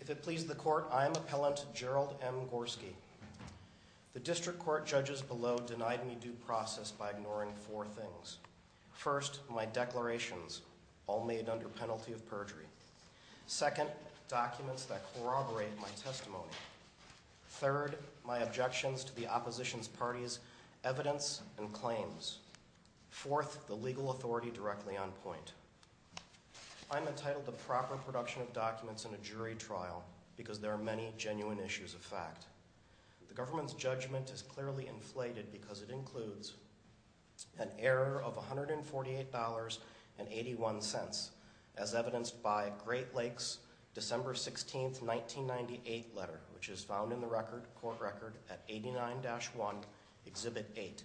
If it pleases the court, I am Appellant Jerold M. Gorski. The district court judges below denied me due process by ignoring four things. First, my declarations, all made under penalty of perjury. Second, documents that corroborate my testimony. Third, my objections to the opposition party's evidence and claims. Fourth, the legal authority directly on point. I am entitled to proper production of documents in a jury trial because there are many genuine issues of fact. The government's judgment is clearly inflated because it includes an error of $148.81, as evidenced by Great Lakes December 16, 1998 letter, which is found in the record, court record, at 89-1, Exhibit 8.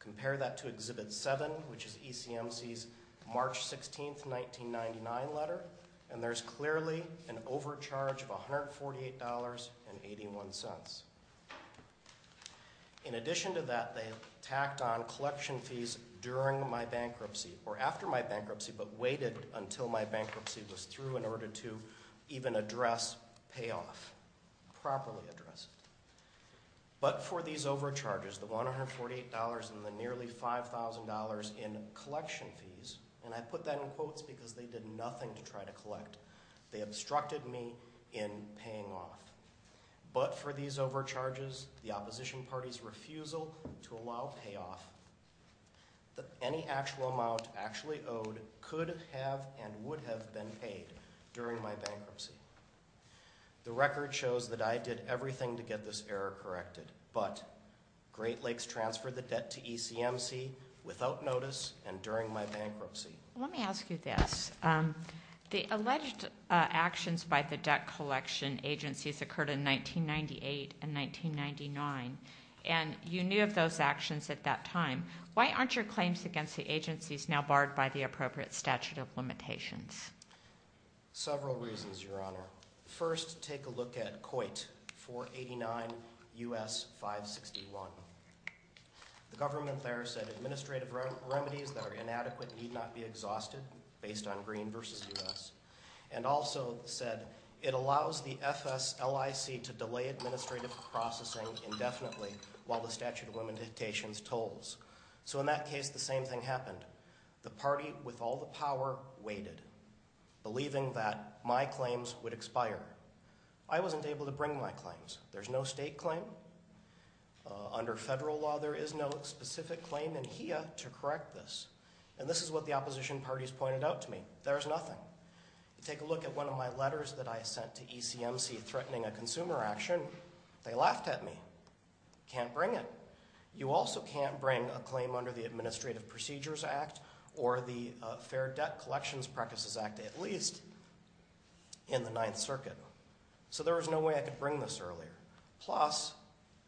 Compare that to Exhibit 7, which is ECMC's March 16, 1999 letter, and there's clearly an overcharge of $148.81. In addition to that, they tacked on collection fees during my bankruptcy, or after my bankruptcy, but waited until my bankruptcy was through in order to even address payoff, properly address it. But for these overcharges, the $148 and the nearly $5,000 in collection fees, and I put that in quotes because they did nothing to try to collect, they obstructed me in paying off. But for these overcharges, the opposition party's refusal to allow payoff, any actual amount actually owed could have and would have been paid during my bankruptcy. The record shows that I did everything to get this error corrected, but Great Lakes transferred the debt to ECMC without notice and during my bankruptcy. Let me ask you this. The alleged actions by the debt collection agencies occurred in 1998 and 1999, and you knew of those actions at that time. Why aren't your claims against the agencies now barred by the appropriate statute of limitations? Several reasons, Your Honor. First, take a look at COIT, 489 U.S. 561. The government there said administrative remedies that are inadequate need not be exhausted based on green versus U.S., and also said it allows the FSLIC to delay administrative processing indefinitely while the statute of limitations tolls. So in that case, the same thing happened. The party with all the power waited, believing that my claims would expire. I wasn't able to bring my claims. There's no state claim. Under federal law, there is no specific claim in HEA to correct this, and this is what the opposition parties pointed out to me. There's nothing. Take a look at one of my letters that I sent to ECMC threatening a consumer action. They laughed at me. Can't bring it. You also can't bring a claim under the Administrative Procedures Act or the Fair Debt Collections Practices Act, at least in the Ninth Circuit. So there was no way I could bring this earlier. Plus,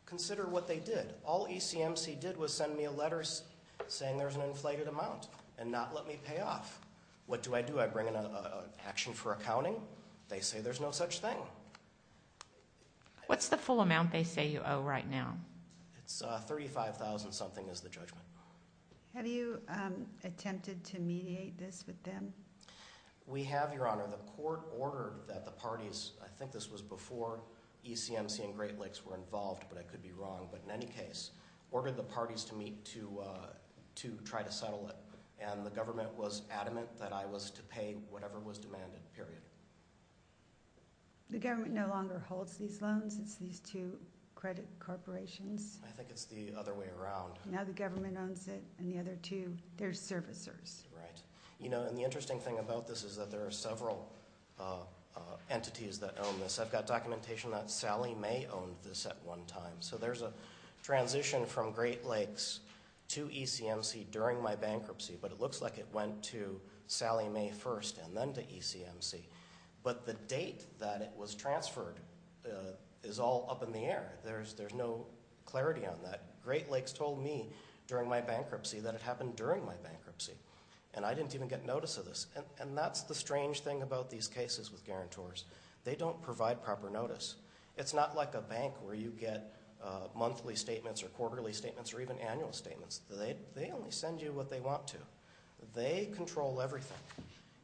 consider what they did. All ECMC did was send me a letter saying there's an inflated amount and not let me pay off. What do I do? I bring an action for accounting? They say there's no such thing. What's the full amount they say you owe right now? It's $35,000-something is the judgment. Have you attempted to mediate this with them? We have, Your Honor. The court ordered that the parties—I think this was before ECMC and Great Lakes were involved, but I could be wrong. But in any case, ordered the parties to meet to try to settle it, and the government was adamant that I was to pay whatever was demanded, period. The government no longer holds these loans. It's these two credit corporations. I think it's the other way around. Now the government owns it, and the other two, they're servicers. Right. You know, and the interesting thing about this is that there are several entities that own this. I've got documentation that Sally May owned this at one time. So there's a transition from Great Lakes to ECMC during my bankruptcy, but it looks like it went to Sally May first and then to ECMC. But the date that it was transferred is all up in the air. There's no clarity on that. Great Lakes told me during my bankruptcy that it happened during my bankruptcy, and I didn't even get notice of this. And that's the strange thing about these cases with guarantors. They don't provide proper notice. It's not like a bank where you get monthly statements or quarterly statements or even annual statements. They only send you what they want to. They control everything.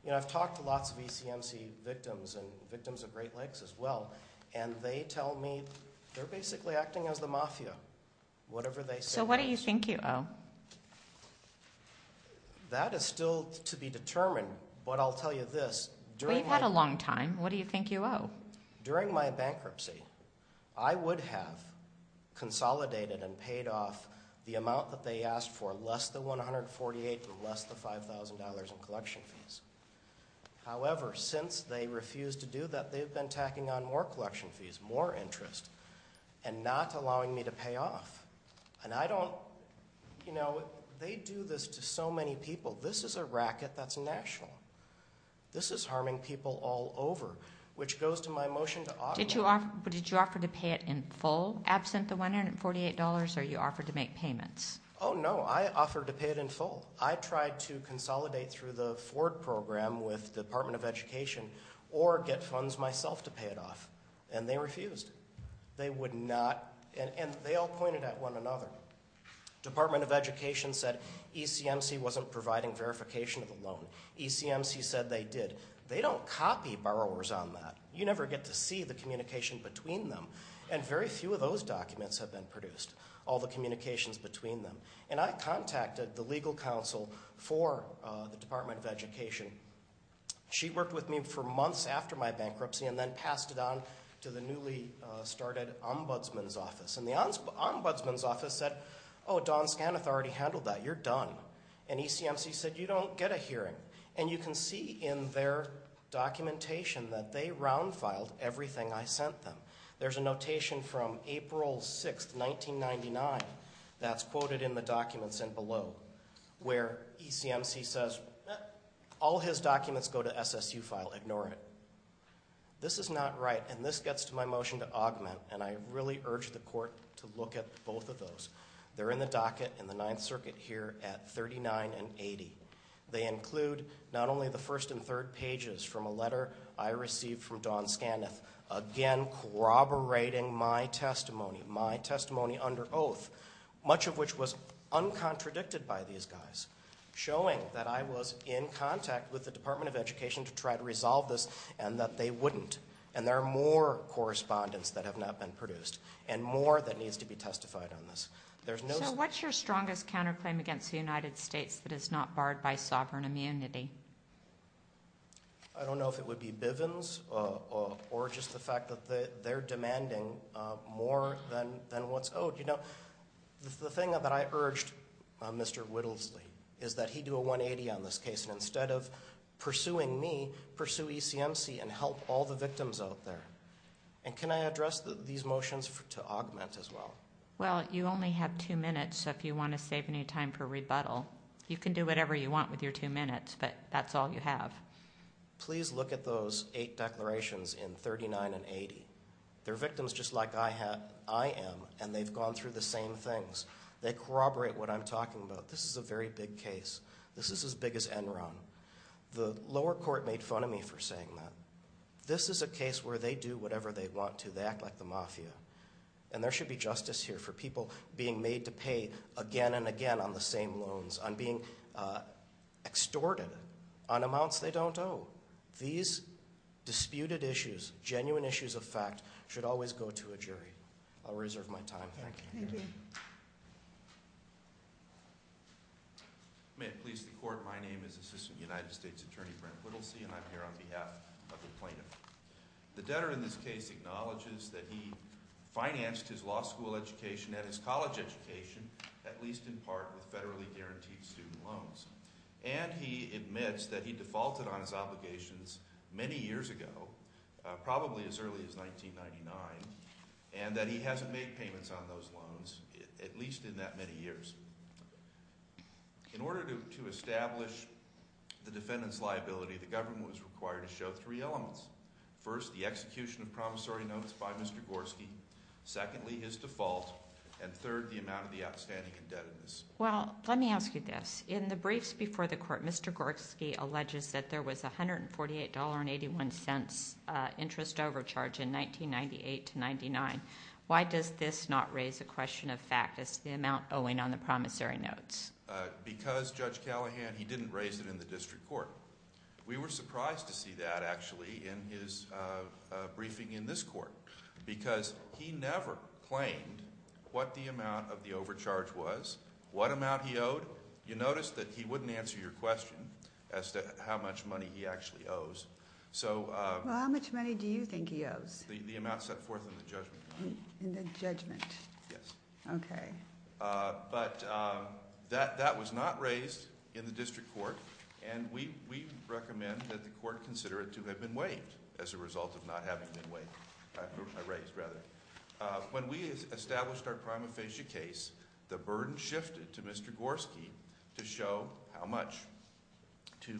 You know, I've talked to lots of ECMC victims and victims of Great Lakes as well, and they tell me they're basically acting as the mafia, whatever they say. So what do you think you owe? That is still to be determined, but I'll tell you this. Well, you've had a long time. What do you think you owe? During my bankruptcy, I would have consolidated and paid off the amount that they asked for, less than $148,000 and less than $5,000 in collection fees. However, since they refused to do that, they've been tacking on more collection fees, more interest, and not allowing me to pay off. And I don't, you know, they do this to so many people. This is a racket that's national. This is harming people all over, which goes to my motion to augment. Did you offer to pay it in full, absent the $148, or are you offered to make payments? Oh, no, I offered to pay it in full. I tried to consolidate through the Ford program with the Department of Education or get funds myself to pay it off, and they refused. They would not, and they all pointed at one another. Department of Education said ECMC wasn't providing verification of the loan. ECMC said they did. They don't copy borrowers on that. You never get to see the communication between them, and very few of those documents have been produced, all the communications between them. And I contacted the legal counsel for the Department of Education. She worked with me for months after my bankruptcy and then passed it on to the newly started Ombudsman's Office. And the Ombudsman's Office said, oh, Don Skanath already handled that. You're done. And ECMC said, you don't get a hearing. And you can see in their documentation that they round-filed everything I sent them. There's a notation from April 6, 1999 that's quoted in the documents in below where ECMC says all his documents go to SSU file. Ignore it. This is not right, and this gets to my motion to augment, and I really urge the court to look at both of those. They're in the docket in the Ninth Circuit here at 39 and 80. They include not only the first and third pages from a letter I received from Don Skanath, again corroborating my testimony, my testimony under oath, much of which was uncontradicted by these guys, showing that I was in contact with the Department of Education to try to resolve this and that they wouldn't. And there are more correspondence that have not been produced and more that needs to be testified on this. So what's your strongest counterclaim against the United States that is not barred by sovereign immunity? I don't know if it would be Bivens or just the fact that they're demanding more than what's owed. The thing that I urged Mr. Whittlesley is that he do a 180 on this case, and instead of pursuing me, pursue ECMC and help all the victims out there. And can I address these motions to augment as well? Well, you only have two minutes, so if you want to save any time for rebuttal, you can do whatever you want with your two minutes, but that's all you have. Please look at those eight declarations in 39 and 80. They're victims just like I am, and they've gone through the same things. They corroborate what I'm talking about. This is a very big case. This is as big as Enron. The lower court made fun of me for saying that. This is a case where they do whatever they want to. They act like the mafia. And there should be justice here for people being made to pay again and again on the same loans, on being extorted on amounts they don't owe. These disputed issues, genuine issues of fact, should always go to a jury. I'll reserve my time. Thank you. May it please the court, my name is Assistant United States Attorney Brent Whittlesey, and I'm here on behalf of the plaintiff. The debtor in this case acknowledges that he financed his law school education and his college education, at least in part with federally guaranteed student loans. And he admits that he defaulted on his obligations many years ago, probably as early as 1999, and that he hasn't made payments on those loans, at least in that many years. In order to establish the defendant's liability, the government was required to show three elements. First, the execution of promissory notes by Mr. Gorski. Secondly, his default. And third, the amount of the outstanding indebtedness. Well, let me ask you this. In the briefs before the court, Mr. Gorski alleges that there was $148.81 interest overcharge in 1998-99. Why does this not raise a question of fact as to the amount owing on the promissory notes? Because Judge Callahan, he didn't raise it in the district court. We were surprised to see that, actually, in his briefing in this court. Because he never claimed what the amount of the overcharge was, what amount he owed. You notice that he wouldn't answer your question as to how much money he actually owes. So- Well, how much money do you think he owes? The amount set forth in the judgment. In the judgment. Yes. Okay. But that was not raised in the district court, And we recommend that the court consider it to have been waived as a result of not having been waived. Raised, rather. When we established our prima facie case, the burden shifted to Mr. Gorski to show how much to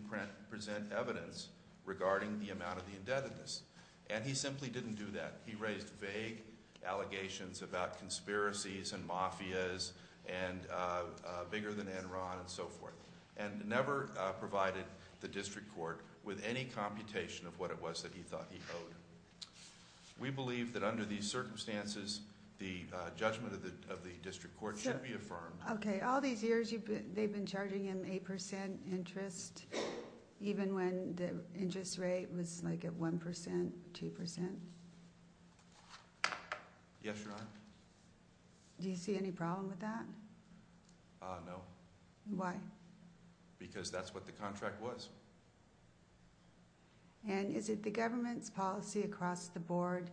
present evidence regarding the amount of the indebtedness. And he simply didn't do that. He raised vague allegations about conspiracies and mafias and bigger than Enron and so forth. And never provided the district court with any computation of what it was that he thought he owed. We believe that under these circumstances, the judgment of the district court should be affirmed. Okay. All these years, they've been charging him 8% interest, even when the interest rate was like at 1%, 2%. Yes, Your Honor. Do you see any problem with that? No. Why? Because that's what the contract was. And is it the government's policy across the board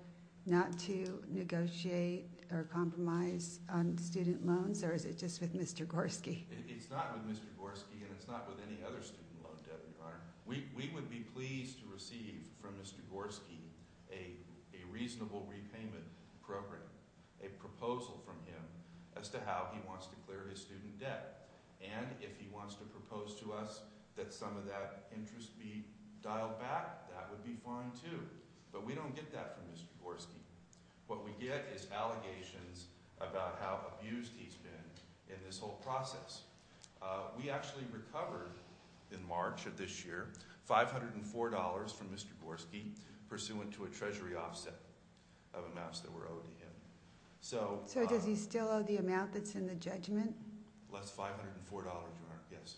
not to negotiate or compromise on student loans, or is it just with Mr. Gorski? It's not with Mr. Gorski, and it's not with any other student loan debt, Your Honor. We would be pleased to receive from Mr. Gorski a reasonable repayment program, a proposal from him as to how he wants to clear his student debt. And if he wants to propose to us that some of that interest be dialed back, that would be fine too. But we don't get that from Mr. Gorski. What we get is allegations about how abused he's been in this whole process. We actually recovered in March of this year $504 from Mr. Gorski pursuant to a treasury offset of amounts that were owed to him. So does he still owe the amount that's in the judgment? That's $504, Your Honor, yes.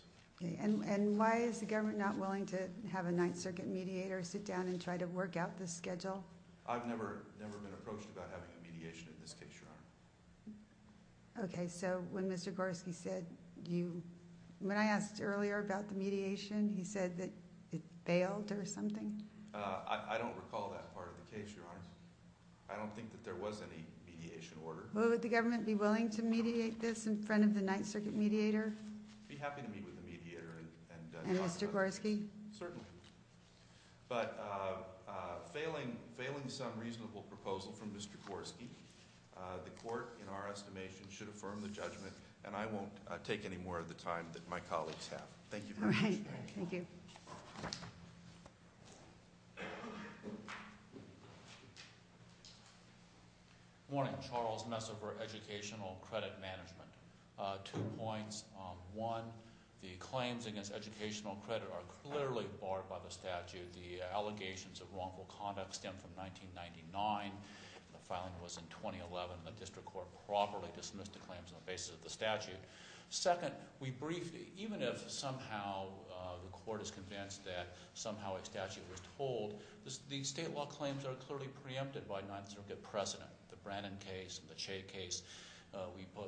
And why is the government not willing to have a Ninth Circuit mediator sit down and try to work out the schedule? I've never been approached about having a mediation in this case, Your Honor. Okay, so when Mr. Gorski said you – when I asked earlier about the mediation, he said that it failed or something? I don't recall that part of the case, Your Honor. I don't think that there was any mediation order. Would the government be willing to mediate this in front of the Ninth Circuit mediator? I'd be happy to meet with the mediator and talk about it. And Mr. Gorski? Certainly. But failing some reasonable proposal from Mr. Gorski, the court, in our estimation, should affirm the judgment. And I won't take any more of the time that my colleagues have. Thank you very much. All right. Thank you. Morning. Charles Messer for Educational Credit Management. Two points. One, the claims against educational credit are clearly barred by the statute. The allegations of wrongful conduct stem from 1999. The filing was in 2011, and the district court properly dismissed the claims on the basis of the statute. Second, we briefed – even if somehow the court is convinced that somehow a statute was told, the state law claims are clearly preempted by Ninth Circuit precedent. The Brannon case, the Che case,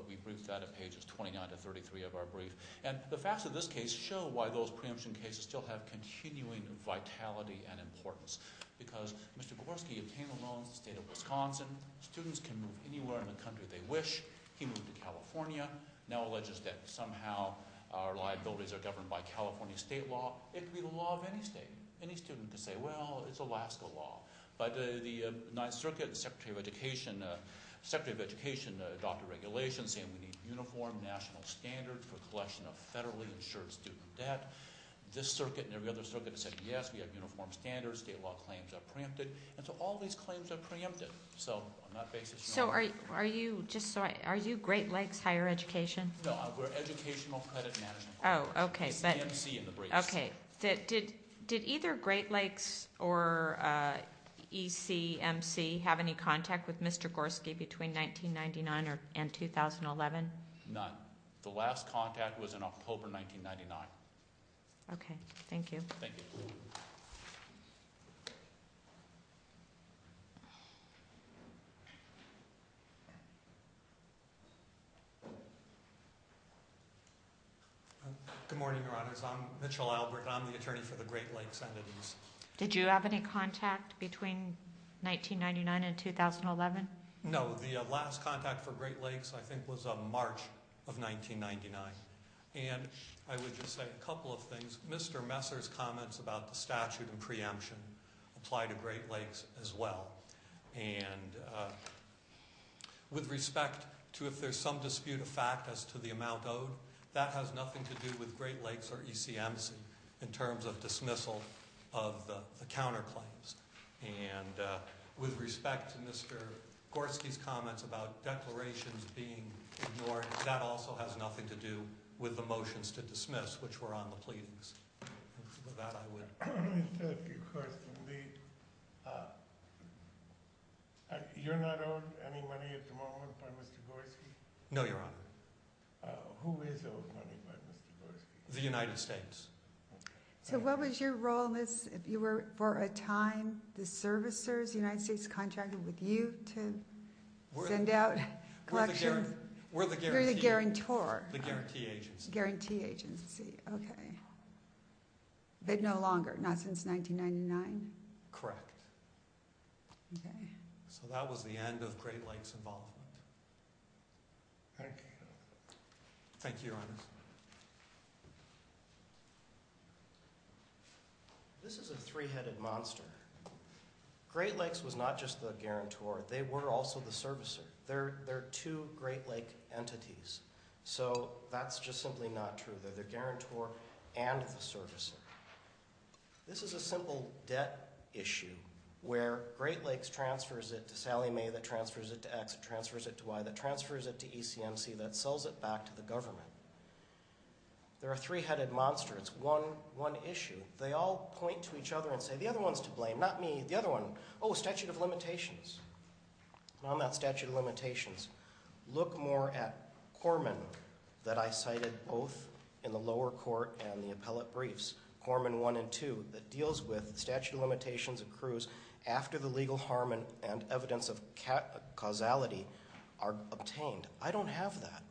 we briefed that at pages 29 to 33 of our brief. And the facts of this case show why those preemption cases still have continuing vitality and importance. Because Mr. Gorski obtained a loan in the state of Wisconsin. Students can move anywhere in the country they wish. He moved to California. Now alleges that somehow our liabilities are governed by California state law. It could be the law of any state. Any student could say, well, it's Alaska law. But the Ninth Circuit, the secretary of education, adopted regulations saying we need uniform national standards for collection of federally insured student debt. This circuit and every other circuit has said, yes, we have uniform standards. State law claims are preempted. And so all these claims are preempted. So on that basis – So are you – just so I – are you Great Lakes Higher Education? No, we're Educational Credit Management. Oh, okay. It's EMC in the briefs. Okay. Did either Great Lakes or ECMC have any contact with Mr. Gorski between 1999 and 2011? None. The last contact was in October 1999. Okay. Thank you. Good morning, Your Honors. I'm Mitchell Albert. I'm the attorney for the Great Lakes entities. Did you have any contact between 1999 and 2011? No. The last contact for Great Lakes I think was March of 1999. And I would just say a couple of things. Mr. Messer's comments about the statute and preemption apply to Great Lakes as well. And with respect to if there's some dispute of fact as to the amount owed, that has nothing to do with Great Lakes or ECMC in terms of dismissal of the counterclaims. And with respect to Mr. Gorski's comments about declarations being ignored, that also has nothing to do with the motions to dismiss, which were on the pleadings. With that, I would – I have a question. You're not owed any money at the moment by Mr. Gorski? No, Your Honor. Who is owed money by Mr. Gorski? The United States. So what was your role in this if you were, for a time, the servicers? The United States contracted with you to send out collections? We're the guarantor. You're the guarantor. The guarantee agency. The guarantee agency. Okay. But no longer, not since 1999? Correct. Okay. So that was the end of Great Lakes' involvement. Thank you. Thank you, Your Honor. This is a three-headed monster. Great Lakes was not just the guarantor. They were also the servicer. They're two Great Lake entities, so that's just simply not true. They're the guarantor and the servicer. This is a simple debt issue where Great Lakes transfers it to Sallie Mae, that transfers it to X, that transfers it to Y, that transfers it to ECMC, that sells it back to the government. They're a three-headed monster. It's one issue. They all point to each other and say, the other one's to blame, not me, the other one. Oh, statute of limitations. And I'm not statute of limitations. Look more at Corman that I cited both in the lower court and the appellate briefs, Corman I and II, that deals with statute of limitations accrues after the legal harm and evidence of causality are obtained. I don't have that.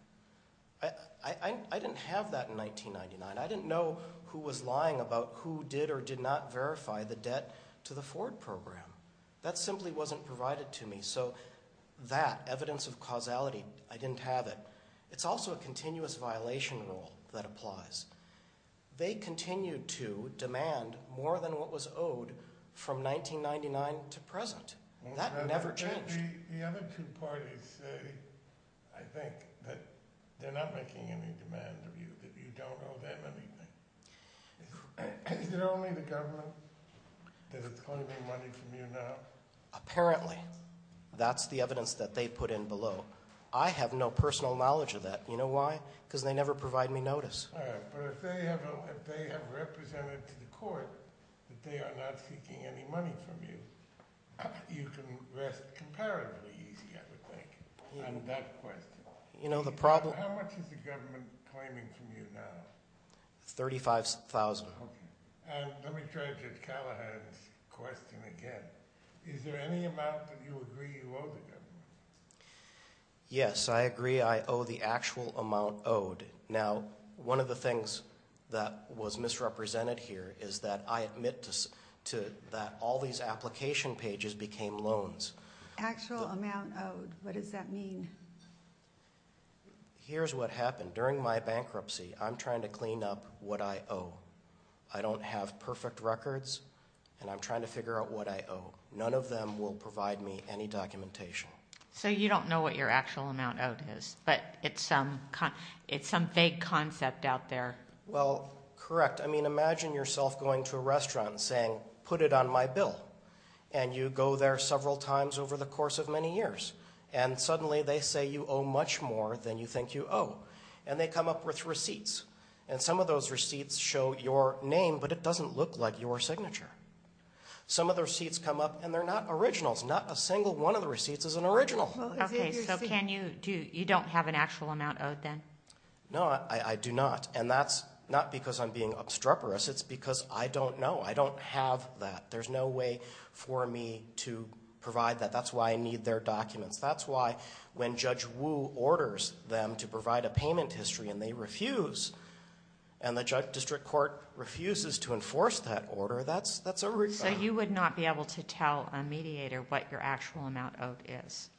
I didn't have that in 1999. I didn't know who was lying about who did or did not verify the debt to the Ford program. That simply wasn't provided to me. So that evidence of causality, I didn't have it. It's also a continuous violation rule that applies. They continue to demand more than what was owed from 1999 to present. That never changed. The other two parties say, I think, that they're not making any demand of you, that you don't owe them anything. Is it only the government that is claiming money from you now? Apparently. That's the evidence that they put in below. I have no personal knowledge of that. You know why? Because they never provide me notice. All right. But if they have represented to the court that they are not seeking any money from you, you can rest comparatively easy, I would think, on that question. You know, the problem How much is the government claiming from you now? $35,000. Let me try Judge Callahan's question again. Is there any amount that you agree you owe the government? Yes, I agree I owe the actual amount owed. Now, one of the things that was misrepresented here is that I admit to that all these application pages became loans. Actual amount owed. What does that mean? Here's what happened. During my bankruptcy, I'm trying to clean up what I owe. I don't have perfect records, and I'm trying to figure out what I owe. None of them will provide me any documentation. So you don't know what your actual amount owed is, but it's some vague concept out there. Well, correct. I mean, imagine yourself going to a restaurant and saying, put it on my bill. And you go there several times over the course of many years. And suddenly they say you owe much more than you think you owe. And they come up with receipts. And some of those receipts show your name, but it doesn't look like your signature. Some of the receipts come up, and they're not originals. Not a single one of the receipts is an original. Okay, so you don't have an actual amount owed then? No, I do not. And that's not because I'm being obstreperous. It's because I don't know. I don't have that. There's no way for me to provide that. That's why I need their documents. That's why when Judge Wu orders them to provide a payment history and they refuse, and the district court refuses to enforce that order, that's a rebound. So you would not be able to tell a mediator what your actual amount owed is?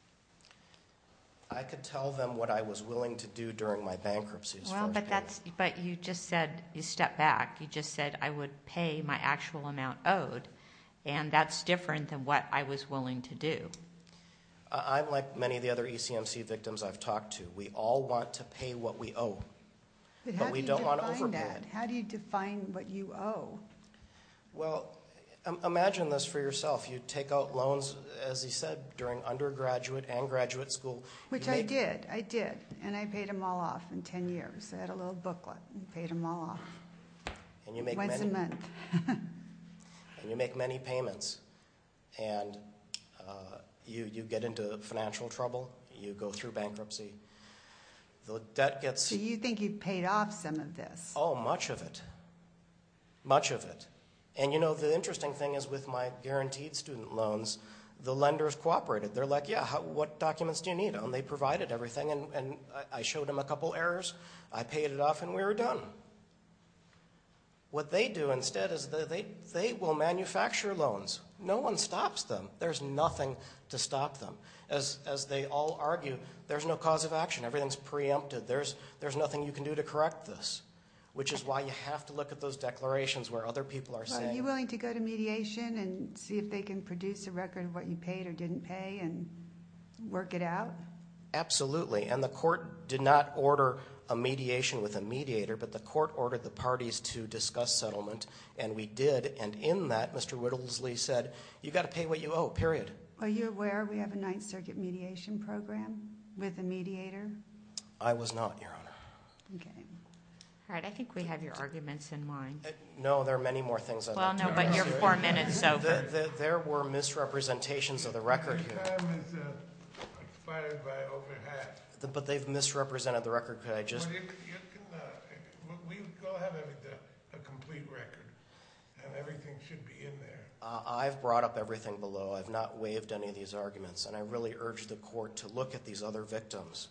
I could tell them what I was willing to do during my bankruptcy. Well, but you just said you stepped back. You just said I would pay my actual amount owed. And that's different than what I was willing to do. I'm like many of the other ECMC victims I've talked to. We all want to pay what we owe, but we don't want to overpay. But how do you define that? How do you define what you owe? Well, imagine this for yourself. You take out loans, as he said, during undergraduate and graduate school. Which I did, I did. And I paid them all off in 10 years. I had a little booklet and paid them all off once a month. And you make many payments. And you get into financial trouble. You go through bankruptcy. So you think you paid off some of this? Oh, much of it. Much of it. And, you know, the interesting thing is with my guaranteed student loans, the lenders cooperated. They're like, yeah, what documents do you need? And they provided everything, and I showed them a couple errors. I paid it off, and we were done. What they do instead is they will manufacture loans. No one stops them. There's nothing to stop them. As they all argue, there's no cause of action. Everything's preempted. There's nothing you can do to correct this, which is why you have to look at those declarations where other people are saying. Are you willing to go to mediation and see if they can produce a record of what you paid or didn't pay and work it out? Absolutely. And the court did not order a mediation with a mediator, but the court ordered the parties to discuss settlement, and we did. And in that, Mr. Whittlesley said, you've got to pay what you owe, period. Are you aware we have a Ninth Circuit mediation program with a mediator? I was not, Your Honor. Okay. All right, I think we have your arguments in mind. No, there are many more things I'd like to say. Well, no, but your four minutes is over. There were misrepresentations of the record here. Your time is expired by over half. But they've misrepresented the record. Could I just? Well, you can go ahead with a complete record, and everything should be in there. I've brought up everything below. I've not waived any of these arguments, and I really urge the court to look at these other victims.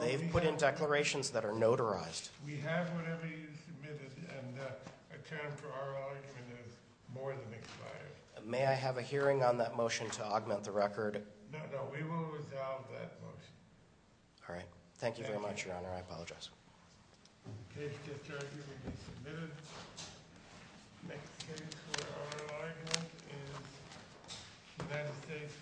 They've put in declarations that are notarized. We have whatever you submitted, and a term for our argument is more than expired. May I have a hearing on that motion to augment the record? No, no, we will resolve that motion. All right. Thank you very much, Your Honor. I apologize. The case discharges will be submitted. The next case for our argument is United States v. McCready.